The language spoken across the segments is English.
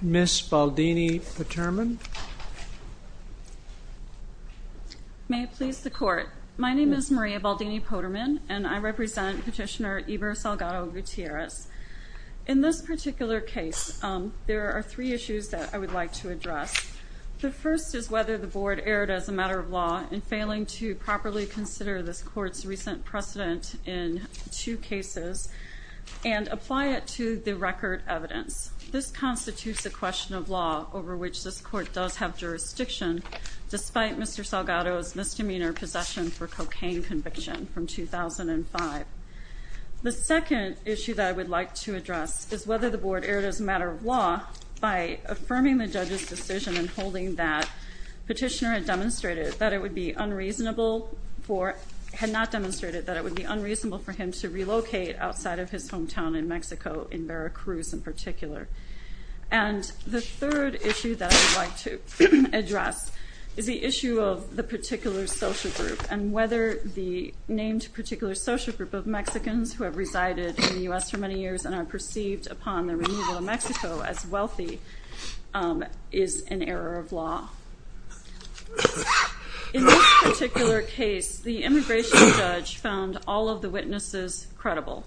Ms. Baldini-Potterman May it please the Court. My name is Maria Baldini-Potterman and I represent Petitioner Eber Salgado-Gutierrez. In this particular case, there are three issues that I would like to address. The first is whether the Board erred as a matter of law in failing to properly consider this Court's recent precedent in two cases and apply it to the record evidence. This constitutes a question of law over which this Court does have jurisdiction despite Mr. Salgado's misdemeanor possession for cocaine conviction from 2005. The second issue that I would like to address is whether the Board erred as a matter of law by affirming the judge's decision in holding that Petitioner had demonstrated that it would be unreasonable for him to relocate outside of his hometown in Mexico, in Veracruz in particular. And the third issue that I would like to address is the issue of the particular social group and whether the named particular social group of Mexicans who have resided in the U.S. for many years and are perceived upon the removal of Mexico as wealthy is an error of law. In this particular case, the immigration judge found all of the witnesses credible.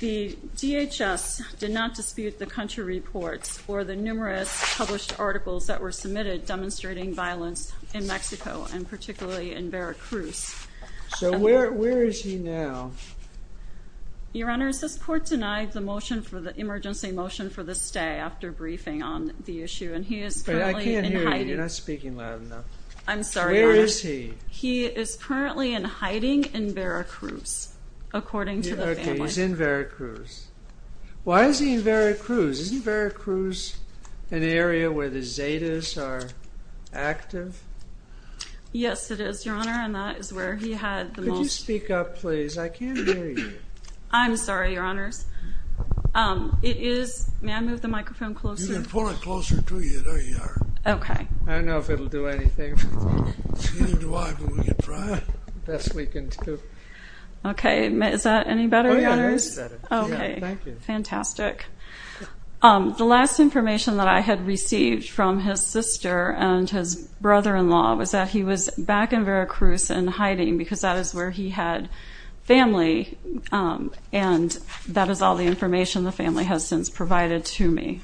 The DHS did not dispute the country reports or the numerous published articles that were submitted demonstrating violence in Mexico and particularly in Veracruz. So where is he now? Your Honor, this Court denied the emergency motion for the stay after briefing on the issue and he is currently in hiding. You're not speaking loud enough. I'm sorry. Where is he? He is currently in hiding in Veracruz, according to the family. He's in Veracruz. Why is he in Veracruz? Isn't Veracruz an area where the Zetas are active? Yes, it is, Your Honor, and that is where he had the most. Could you speak up, please? I can't hear you. I'm sorry, Your Honors. It is, may I move the microphone closer? You can pull it closer to you. There you are. Okay. I don't know if it will do anything. The best we can do. Okay. Is that any better, Your Honors? Oh, yeah, I think it's better. Okay. Thank you. Fantastic. The last information that I had received from his sister and his brother-in-law was that he was back in Veracruz and hiding because that is where he had family, and that is all the information the family has since provided to me.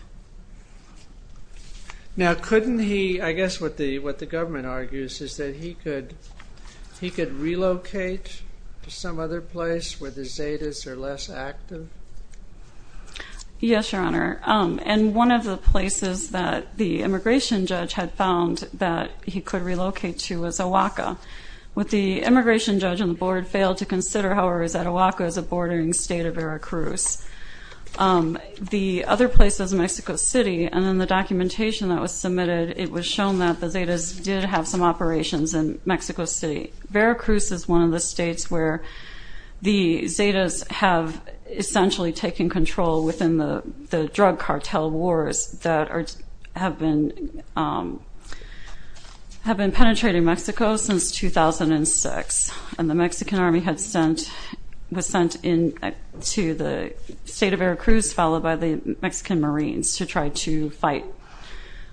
Now, couldn't he, I guess what the government argues is that he could relocate to some other place where the Zetas are less active? Yes, Your Honor, and one of the places that the immigration judge had found that he could relocate to was Ahuaca. What the immigration judge and the board failed to consider, however, is that Ahuaca is a bordering state of Veracruz. The other place is Mexico City, and in the documentation that was submitted, it was shown that the Zetas did have some operations in Mexico City. Veracruz is one of the states where the Zetas have essentially taken control within the drug cartel wars that have been penetrating Mexico since 2006, and the Mexican Army was sent to the state of Veracruz, followed by the Mexican Marines, to try to fight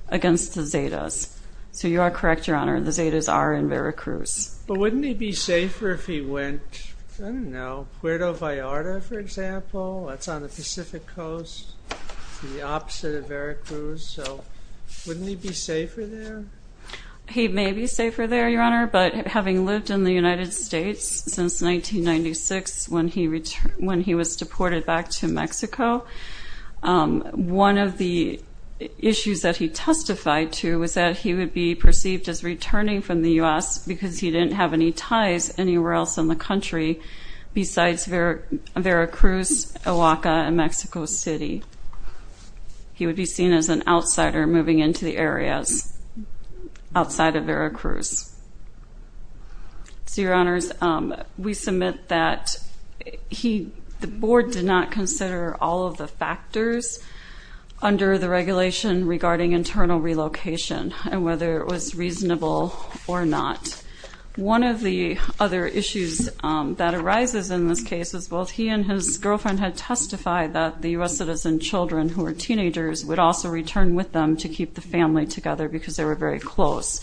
against the Zetas. So you are correct, Your Honor, the Zetas are in Veracruz. But wouldn't he be safer if he went, I don't know, Puerto Vallarta, for example? That's on the Pacific Coast, the opposite of Veracruz, so wouldn't he be safer there? He may be safer there, Your Honor, but having lived in the United States since 1996, when he was deported back to Mexico, one of the issues that he testified to was that he would be perceived as returning from the U.S. because he didn't have any ties anywhere else in the country besides Veracruz, Ahuaca, and Mexico City. He would be seen as an outsider moving into the areas outside of Veracruz. So, Your Honors, we submit that the board did not consider all of the factors under the regulation regarding internal relocation and whether it was reasonable or not. One of the other issues that arises in this case is both he and his girlfriend had testified that the U.S. citizen children who were teenagers would also return with them to keep the family together because they were very close.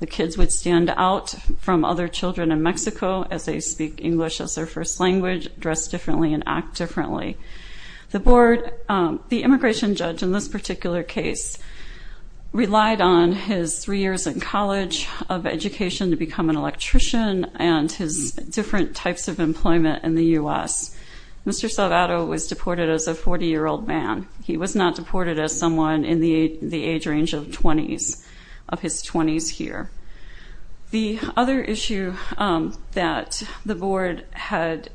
The kids would stand out from other children in Mexico as they speak English as their first language, dress differently, and act differently. The board, the immigration judge in this particular case, relied on his three years in college of education to become an electrician and his different types of employment in the U.S. Mr. Salvato was deported as a 40-year-old man. He was not deported as someone in the age range of 20s, of his 20s here. The other issue that the board had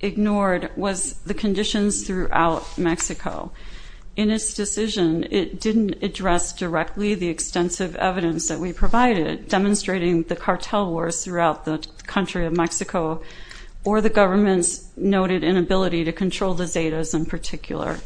ignored was the conditions throughout Mexico. In its decision, it didn't address directly the extensive evidence that we provided demonstrating the cartel wars throughout the country of Mexico or the government's noted inability to control the Zetas in particular.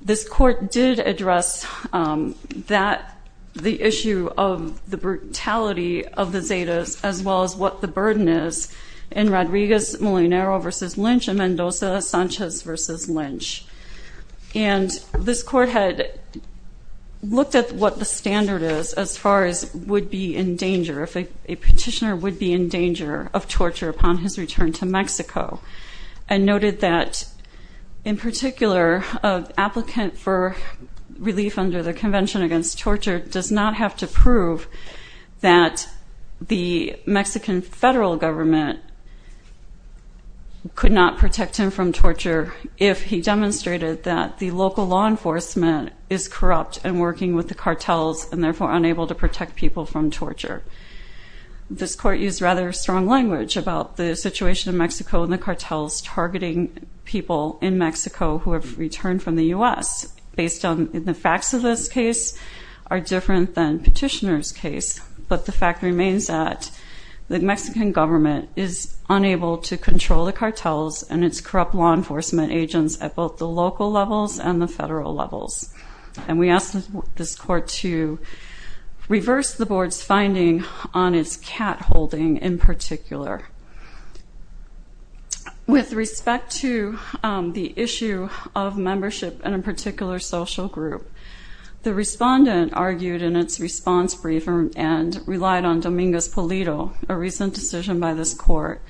This court did address that, the issue of the brutality of the Zetas, as well as what the burden is in Rodriguez-Molinero v. Lynch and Mendoza-Sanchez v. Lynch. And this court had looked at what the standard is as far as would be in danger, if a petitioner would be in danger of torture upon his return to Mexico, and noted that in particular an applicant for relief under the Convention Against Torture does not have to prove that the Mexican federal government could not protect him from torture if he demonstrated that the local law enforcement is corrupt and working with the cartels and therefore unable to protect people from torture. This court used rather strong language about the situation in Mexico and the cartels targeting people in Mexico who have returned from the U.S. Based on the facts of this case are different than petitioner's case, but the fact remains that the Mexican government is unable to control the cartels and its corrupt law enforcement agents at both the local levels and the federal levels. And we asked this court to reverse the board's finding on its cat holding in particular. With respect to the issue of membership in a particular social group, the respondent argued in its response briefer and relied on Dominguez-Polito, a recent decision by this court.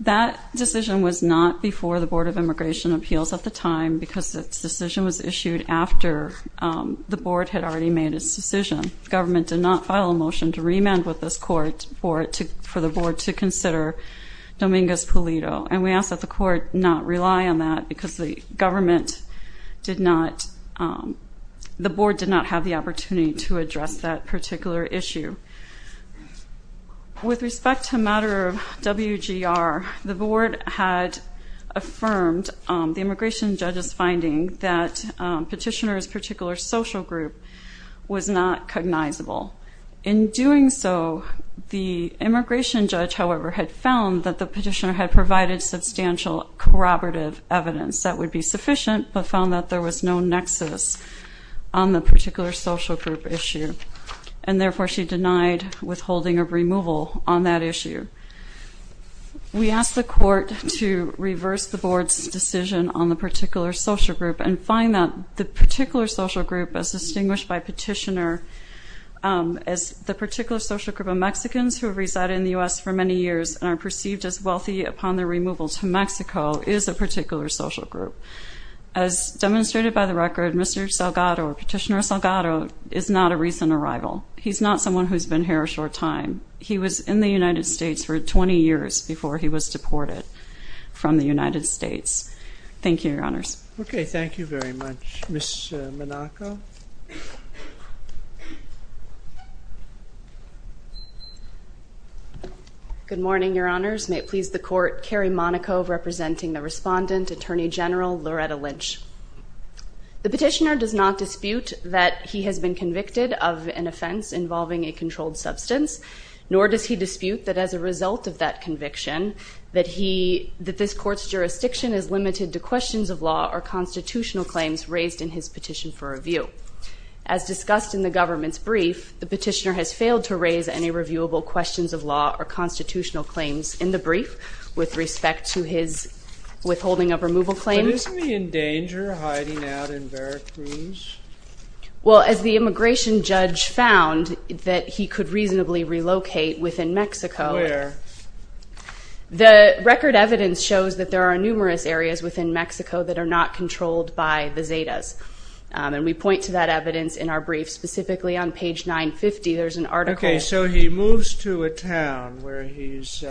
That decision was not before the Board of Immigration Appeals at the time because its decision was issued after the board had already made its decision. The government did not file a motion to remand with this court for the board to consider Dominguez-Polito, and we asked that the court not rely on that because the board did not have the opportunity to address that particular issue. With respect to a matter of WGR, the board had affirmed the immigration judge's finding that petitioner's particular social group was not cognizable. In doing so, the immigration judge, however, had found that the petitioner had provided substantial corroborative evidence that would be sufficient, but found that there was no nexus on the particular social group issue, and therefore she denied withholding of removal on that issue. We asked the court to reverse the board's decision on the particular social group and find that the particular social group as distinguished by petitioner as the particular social group of Mexicans who have resided in the U.S. for many years and are perceived as wealthy upon their removal to Mexico is a particular social group. As demonstrated by the record, Mr. Salgado, Petitioner Salgado, is not a recent arrival. He's not someone who's been here a short time. He was in the United States for 20 years before he was deported from the United States. Thank you, Your Honors. Okay, thank you very much. Ms. Monaco? Good morning, Your Honors. May it please the court, Carrie Monaco representing the respondent, Attorney General Loretta Lynch. The petitioner does not dispute that he has been convicted of an offense involving a controlled substance, nor does he dispute that as a result of that conviction, that this court's jurisdiction is limited to questions of law or constitutional claims raised in his petition for review. As discussed in the government's brief, the petitioner has failed to raise any reviewable questions of law or constitutional claims in the brief with respect to his withholding of removal claims. But isn't he in danger of hiding out in Veracruz? Well, as the immigration judge found that he could reasonably relocate within Mexico. Where? The record evidence shows that there are numerous areas within Mexico that are not controlled by the Zetas, and we point to that evidence in our brief. Specifically on page 950, there's an article. Okay, so he moves to a town where he's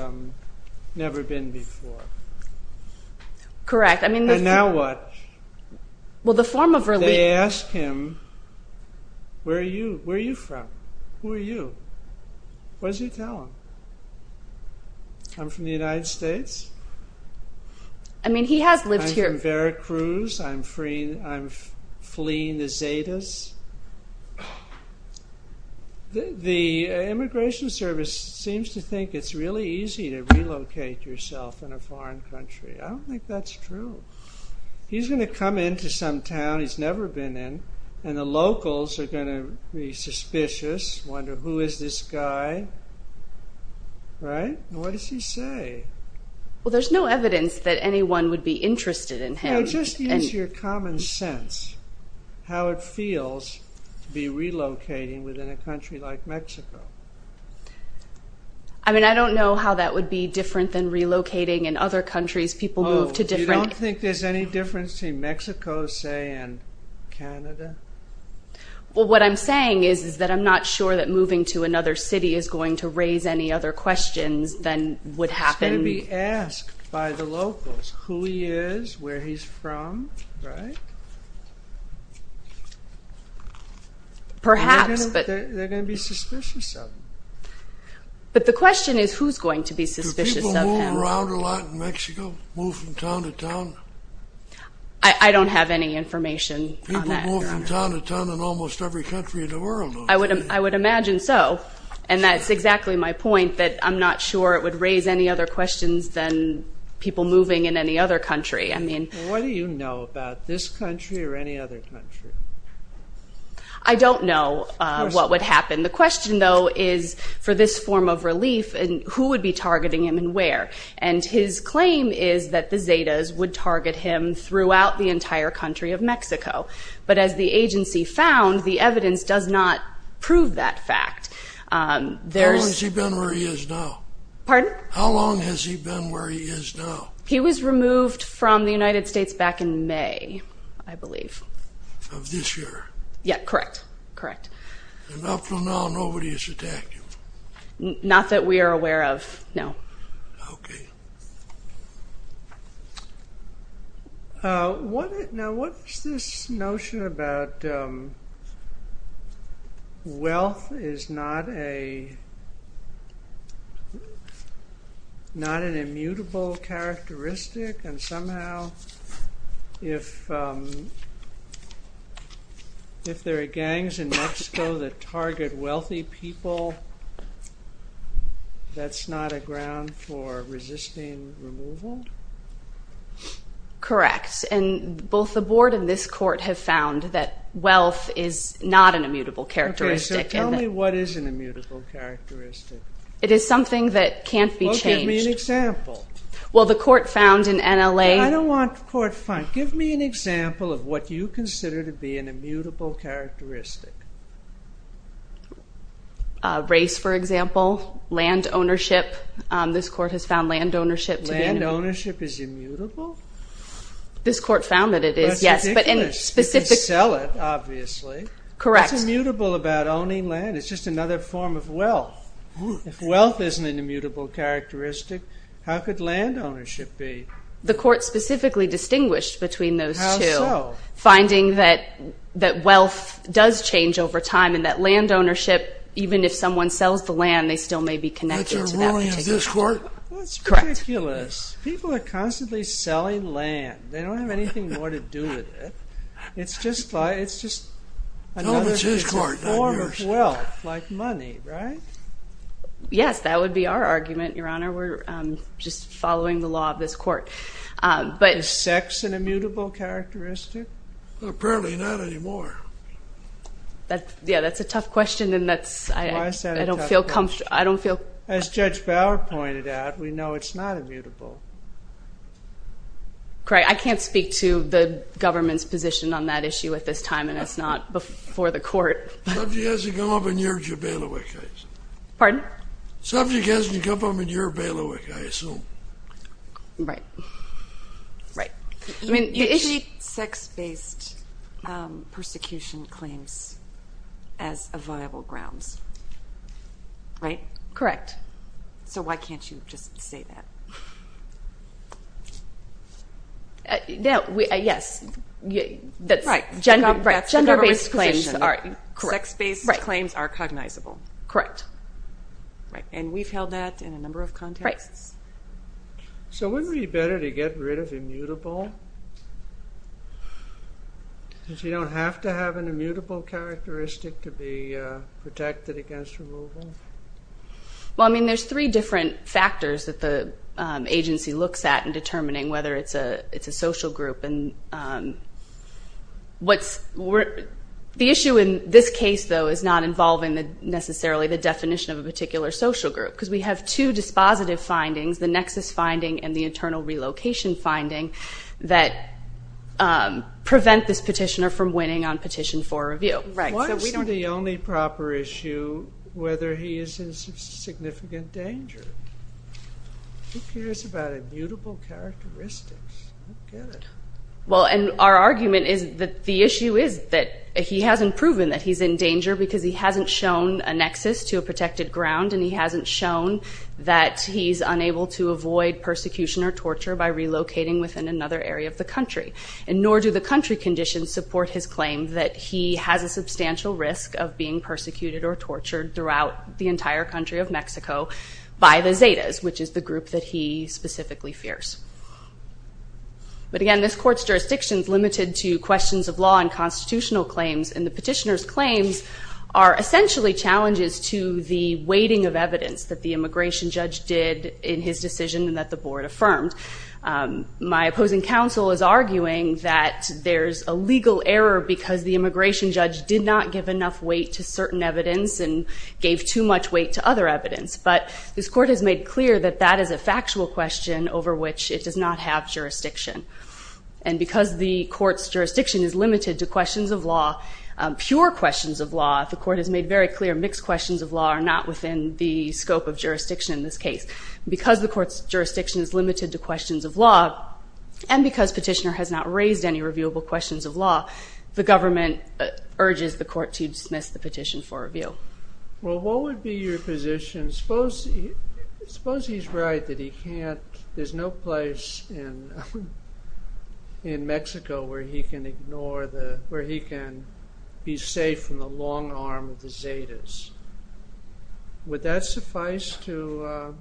never been before. Correct. And now what? Well, the form of relief. They ask him, where are you from? Who are you? What does he tell them? I'm from the United States. I mean, he has lived here. I'm from Veracruz. I'm fleeing the Zetas. The immigration service seems to think it's really easy to relocate yourself in a foreign country. I don't think that's true. He's going to come into some town he's never been in, and the locals are going to be suspicious, wonder, who is this guy? Right? What does he say? Well, there's no evidence that anyone would be interested in him. Just use your common sense, how it feels to be relocating within a country like Mexico. I mean, I don't know how that would be different than relocating in other countries. Oh, you don't think there's any difference between Mexico, say, and Canada? Well, what I'm saying is that I'm not sure that moving to another city is going to raise any other questions than would happen. He's going to be asked by the locals who he is, where he's from, right? Perhaps. They're going to be suspicious of him. But the question is who's going to be suspicious of him. Do people move around a lot in Mexico, move from town to town? I don't have any information on that. People move from town to town in almost every country in the world. I would imagine so, and that's exactly my point, that I'm not sure it would raise any other questions than people moving in any other country. What do you know about this country or any other country? I don't know what would happen. The question, though, is for this form of relief, who would be targeting him and where? And his claim is that the Zetas would target him throughout the entire country of Mexico. But as the agency found, the evidence does not prove that fact. How long has he been where he is now? Pardon? How long has he been where he is now? He was removed from the United States back in May, I believe. Of this year. Yeah, correct, correct. And up until now, nobody has attacked him? Not that we are aware of, no. Okay. Now what is this notion about wealth is not an immutable characteristic and somehow if there are gangs in Mexico that target wealthy people, that's not a ground for resisting removal? Correct. And both the board and this court have found that wealth is not an immutable characteristic. Okay, so tell me what is an immutable characteristic? It is something that can't be changed. Well, give me an example. Well, the court found in NLA... I don't want court fun. Give me an example of what you consider to be an immutable characteristic. Race, for example. Land ownership. This court has found land ownership to be... Land ownership is immutable? This court found that it is, yes. That's ridiculous. You can sell it, obviously. Correct. What's immutable about owning land? It's just another form of wealth. If wealth isn't an immutable characteristic, how could land ownership be? The court specifically distinguished between those two. How so? Finding that wealth does change over time and that land ownership, even if someone sells the land, they still may be connected to that particular... That's a ruling of this court? Correct. That's ridiculous. People are constantly selling land. They don't have anything more to do with it. It's just another form of wealth, like money, right? Yes, that would be our argument, Your Honor. We're just following the law of this court. Is sex an immutable characteristic? Apparently not anymore. Yeah, that's a tough question. Why is that a tough question? I don't feel... As Judge Bauer pointed out, we know it's not immutable. Correct. I can't speak to the government's position on that issue at this time, and it's not before the court. The subject hasn't come up in your bailiwick, I assume. Pardon? The subject hasn't come up in your bailiwick, I assume. Right. Right. You treat sex-based persecution claims as viable grounds, right? Correct. So why can't you just say that? Yes, that's gender-based claims. Sex-based claims are cognizable. Correct. Right, and we've held that in a number of contexts. So wouldn't it be better to get rid of immutable, since you don't have to have an immutable characteristic to be protected against removal? Well, I mean, there's three different factors that the agency looks at in determining whether it's a social group. The issue in this case, though, is not involving necessarily the definition of a particular social group, because we have two dispositive findings, the nexus finding and the internal relocation finding, that prevent this petitioner from winning on Petition 4 review. Why is the only proper issue whether he is in significant danger? Who cares about immutable characteristics? I don't get it. Well, and our argument is that the issue is that he hasn't proven that he's in danger because he hasn't shown a nexus to a protected ground and he hasn't shown that he's unable to avoid persecution or torture by relocating within another area of the country. And nor do the country conditions support his claim that he has a substantial risk of being persecuted or tortured throughout the entire country of Mexico by the Zetas, which is the group that he specifically fears. But again, this court's jurisdiction is limited to questions of law and constitutional claims, and the petitioner's claims are essentially challenges to the weighting of evidence that the immigration judge did in his decision and that the board affirmed. My opposing counsel is arguing that there's a legal error because the immigration judge did not give enough weight to certain evidence and gave too much weight to other evidence. But this court has made clear that that is a factual question over which it does not have jurisdiction. And because the court's jurisdiction is limited to questions of law, pure questions of law, the court has made very clear mixed questions of law are not within the scope of jurisdiction in this case. Because the court's jurisdiction is limited to questions of law and because petitioner has not raised any reviewable questions of law, the government urges the court to dismiss the petition for review. Well, what would be your position? Suppose he's right that there's no place in Mexico where he can be safe from the long arm of the Zetas. Would that suffice to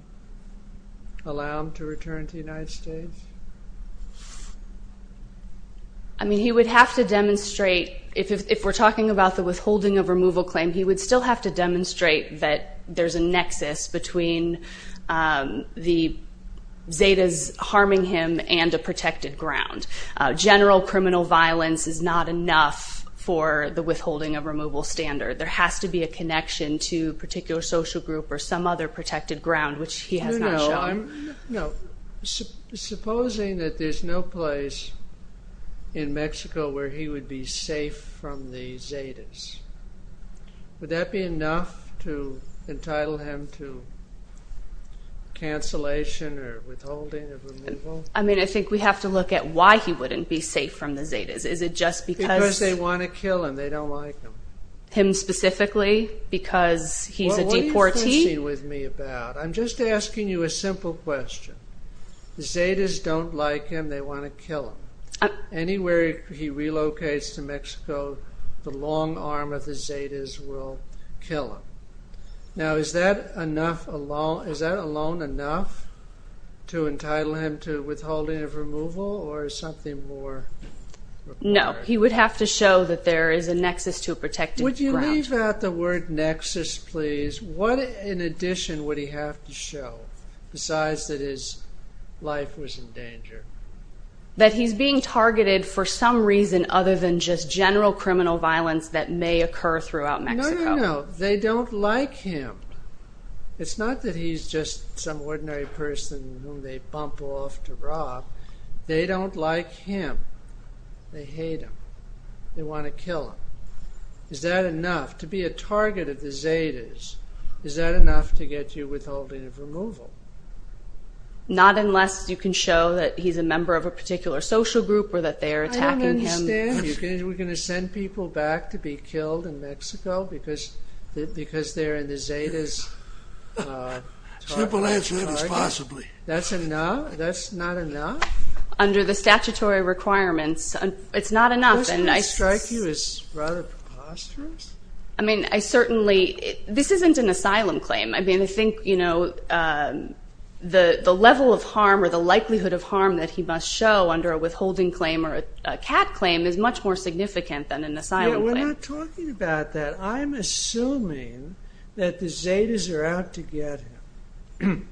allow him to return to the United States? I mean, he would have to demonstrate, if we're talking about the withholding of removal claim, he would still have to demonstrate that there's a nexus between the Zetas harming him and a protected ground. General criminal violence is not enough for the withholding of removal standard. There has to be a connection to a particular social group or some other protected ground, which he has not shown. Supposing that there's no place in Mexico where he would be safe from the Zetas, would that be enough to entitle him to cancellation or withholding of removal? I mean, I think we have to look at why he wouldn't be safe from the Zetas. Is it just because... Because they want to kill him, they don't like him. Him specifically, because he's a deportee? Well, what are you fussing with me about? I'm just asking you a simple question. The Zetas don't like him, they want to kill him. Anywhere he relocates to Mexico, the long arm of the Zetas will kill him. Now, is that alone enough to entitle him to withholding of removal or is something more required? No, he would have to show that there is a nexus to a protected ground. Would you leave out the word nexus, please? What in addition would he have to show, besides that his life was in danger? That he's being targeted for some reason other than just general criminal violence that may occur throughout Mexico. No, no, no. They don't like him. It's not that he's just some ordinary person whom they bump off to rob. They don't like him. They hate him. They want to kill him. Is that enough? To be a target of the Zetas, is that enough to get you withholding of removal? Not unless you can show that he's a member of a particular social group or that they're attacking him. I don't understand. We're going to send people back to be killed in Mexico because they're in the Zetas' target? Simple answer is possibly. That's not enough? Under the statutory requirements, it's not enough. The person who would strike you is rather preposterous. I mean, I certainly... This isn't an asylum claim. I mean, I think, you know, the level of harm or the likelihood of harm that he must show under a withholding claim or a CAT claim is much more significant than an asylum claim. Yeah, we're not talking about that. I'm assuming that the Zetas are out to get him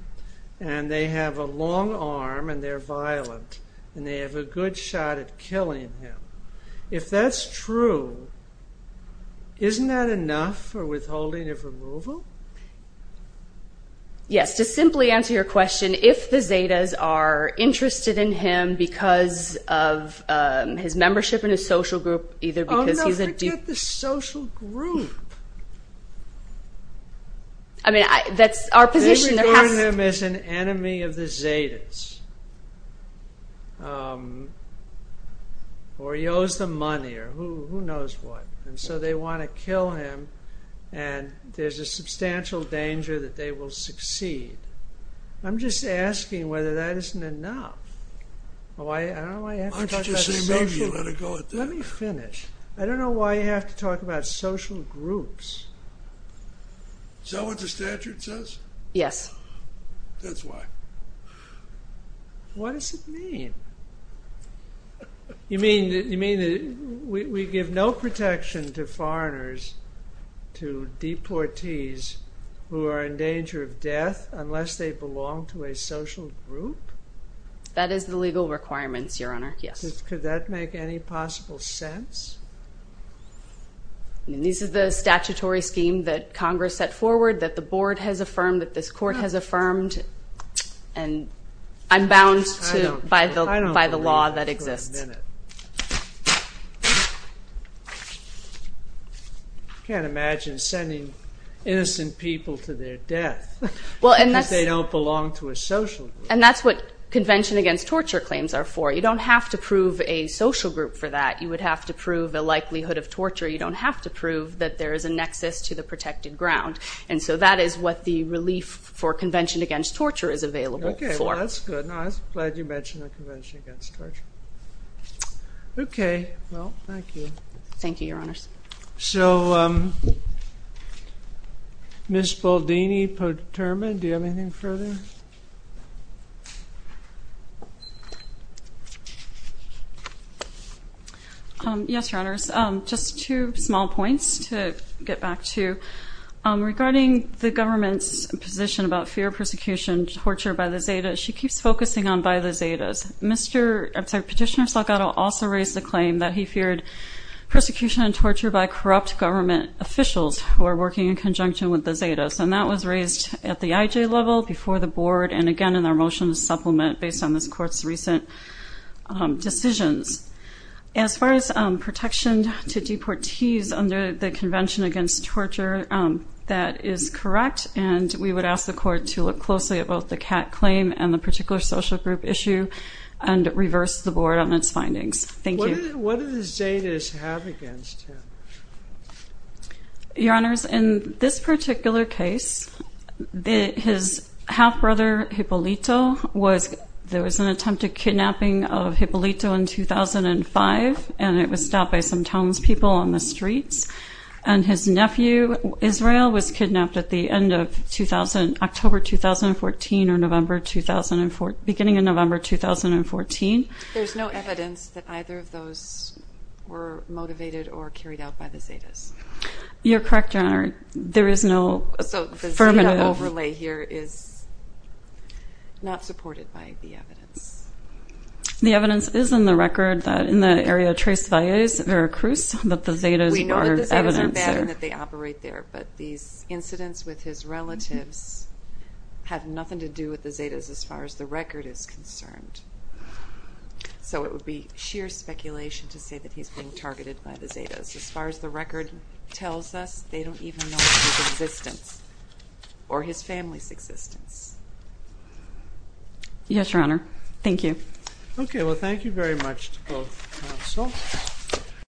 and they have a long arm and they're violent and they have a good shot at killing him. If that's true, isn't that enough for withholding of removal? Yes. To simply answer your question, if the Zetas are interested in him because of his membership in a social group, either because he's a... Oh, no, forget the social group. I mean, that's our position. They regard him as an enemy of the Zetas or he owes them money or who knows what. And so they want to kill him and there's a substantial danger that they will succeed. I'm just asking whether that isn't enough. Why don't you say maybe you let it go at that? Let me finish. I don't know why you have to talk about social groups. Is that what the statute says? Yes. That's why. What does it mean? You mean that we give no protection to foreigners, to deportees who are in danger of death unless they belong to a social group? That is the legal requirements, Your Honor. Yes. Could that make any possible sense? This is the statutory scheme that Congress set forward, that the board has affirmed, that this court has affirmed, and I'm bound by the law that exists. Wait a minute. I can't imagine sending innocent people to their death if they don't belong to a social group. And that's what Convention Against Torture claims are for. You don't have to prove a social group for that. You would have to prove a likelihood of torture. You don't have to prove that there is a nexus to the protected ground. And so that is what the relief for Convention Against Torture is available for. Okay. Well, that's good. And I was glad you mentioned the Convention Against Torture. Okay. Well, thank you. Thank you, Your Honors. So, Ms. Boldini-Poterman, do you have anything further? Yes, Your Honors. Just two small points to get back to. Regarding the government's position about fear of persecution and torture by the Zeta, she keeps focusing on by the Zetas. Petitioner Salgado also raised the claim that he feared persecution and torture by corrupt government officials who are working in conjunction with the Zetas. And that was raised at the IJ level, before the Board, and again in their motion to supplement based on this Court's recent decisions. As far as protection to deportees under the Convention Against Torture, that is correct. And we would ask the Court to look closely at both the CAC claim and the particular social group issue and reverse the Board on its findings. Thank you. What does Zetas have against him? Your Honors, in this particular case, his half-brother, Hippolito, there was an attempted kidnapping of Hippolito in 2005, and it was stopped by some townspeople on the streets. And his nephew, Israel, was kidnapped at the end of October 2014 or beginning of November 2014. There's no evidence that either of those were motivated or carried out by the Zetas. You're correct, Your Honor. There is no affirmative... So the Zeta overlay here is not supported by the evidence. The evidence is in the record that in the area of Tres Valles, Veracruz, that the Zetas are evidence there. We know that the Zetas are bad and that they operate there, but these incidents with his relatives have nothing to do with the Zetas as far as the record is concerned. So it would be sheer speculation to say that he's being targeted by the Zetas. As far as the record tells us, they don't even know his existence or his family's existence. Yes, Your Honor. Thank you. Okay, well, thank you very much to both counsel.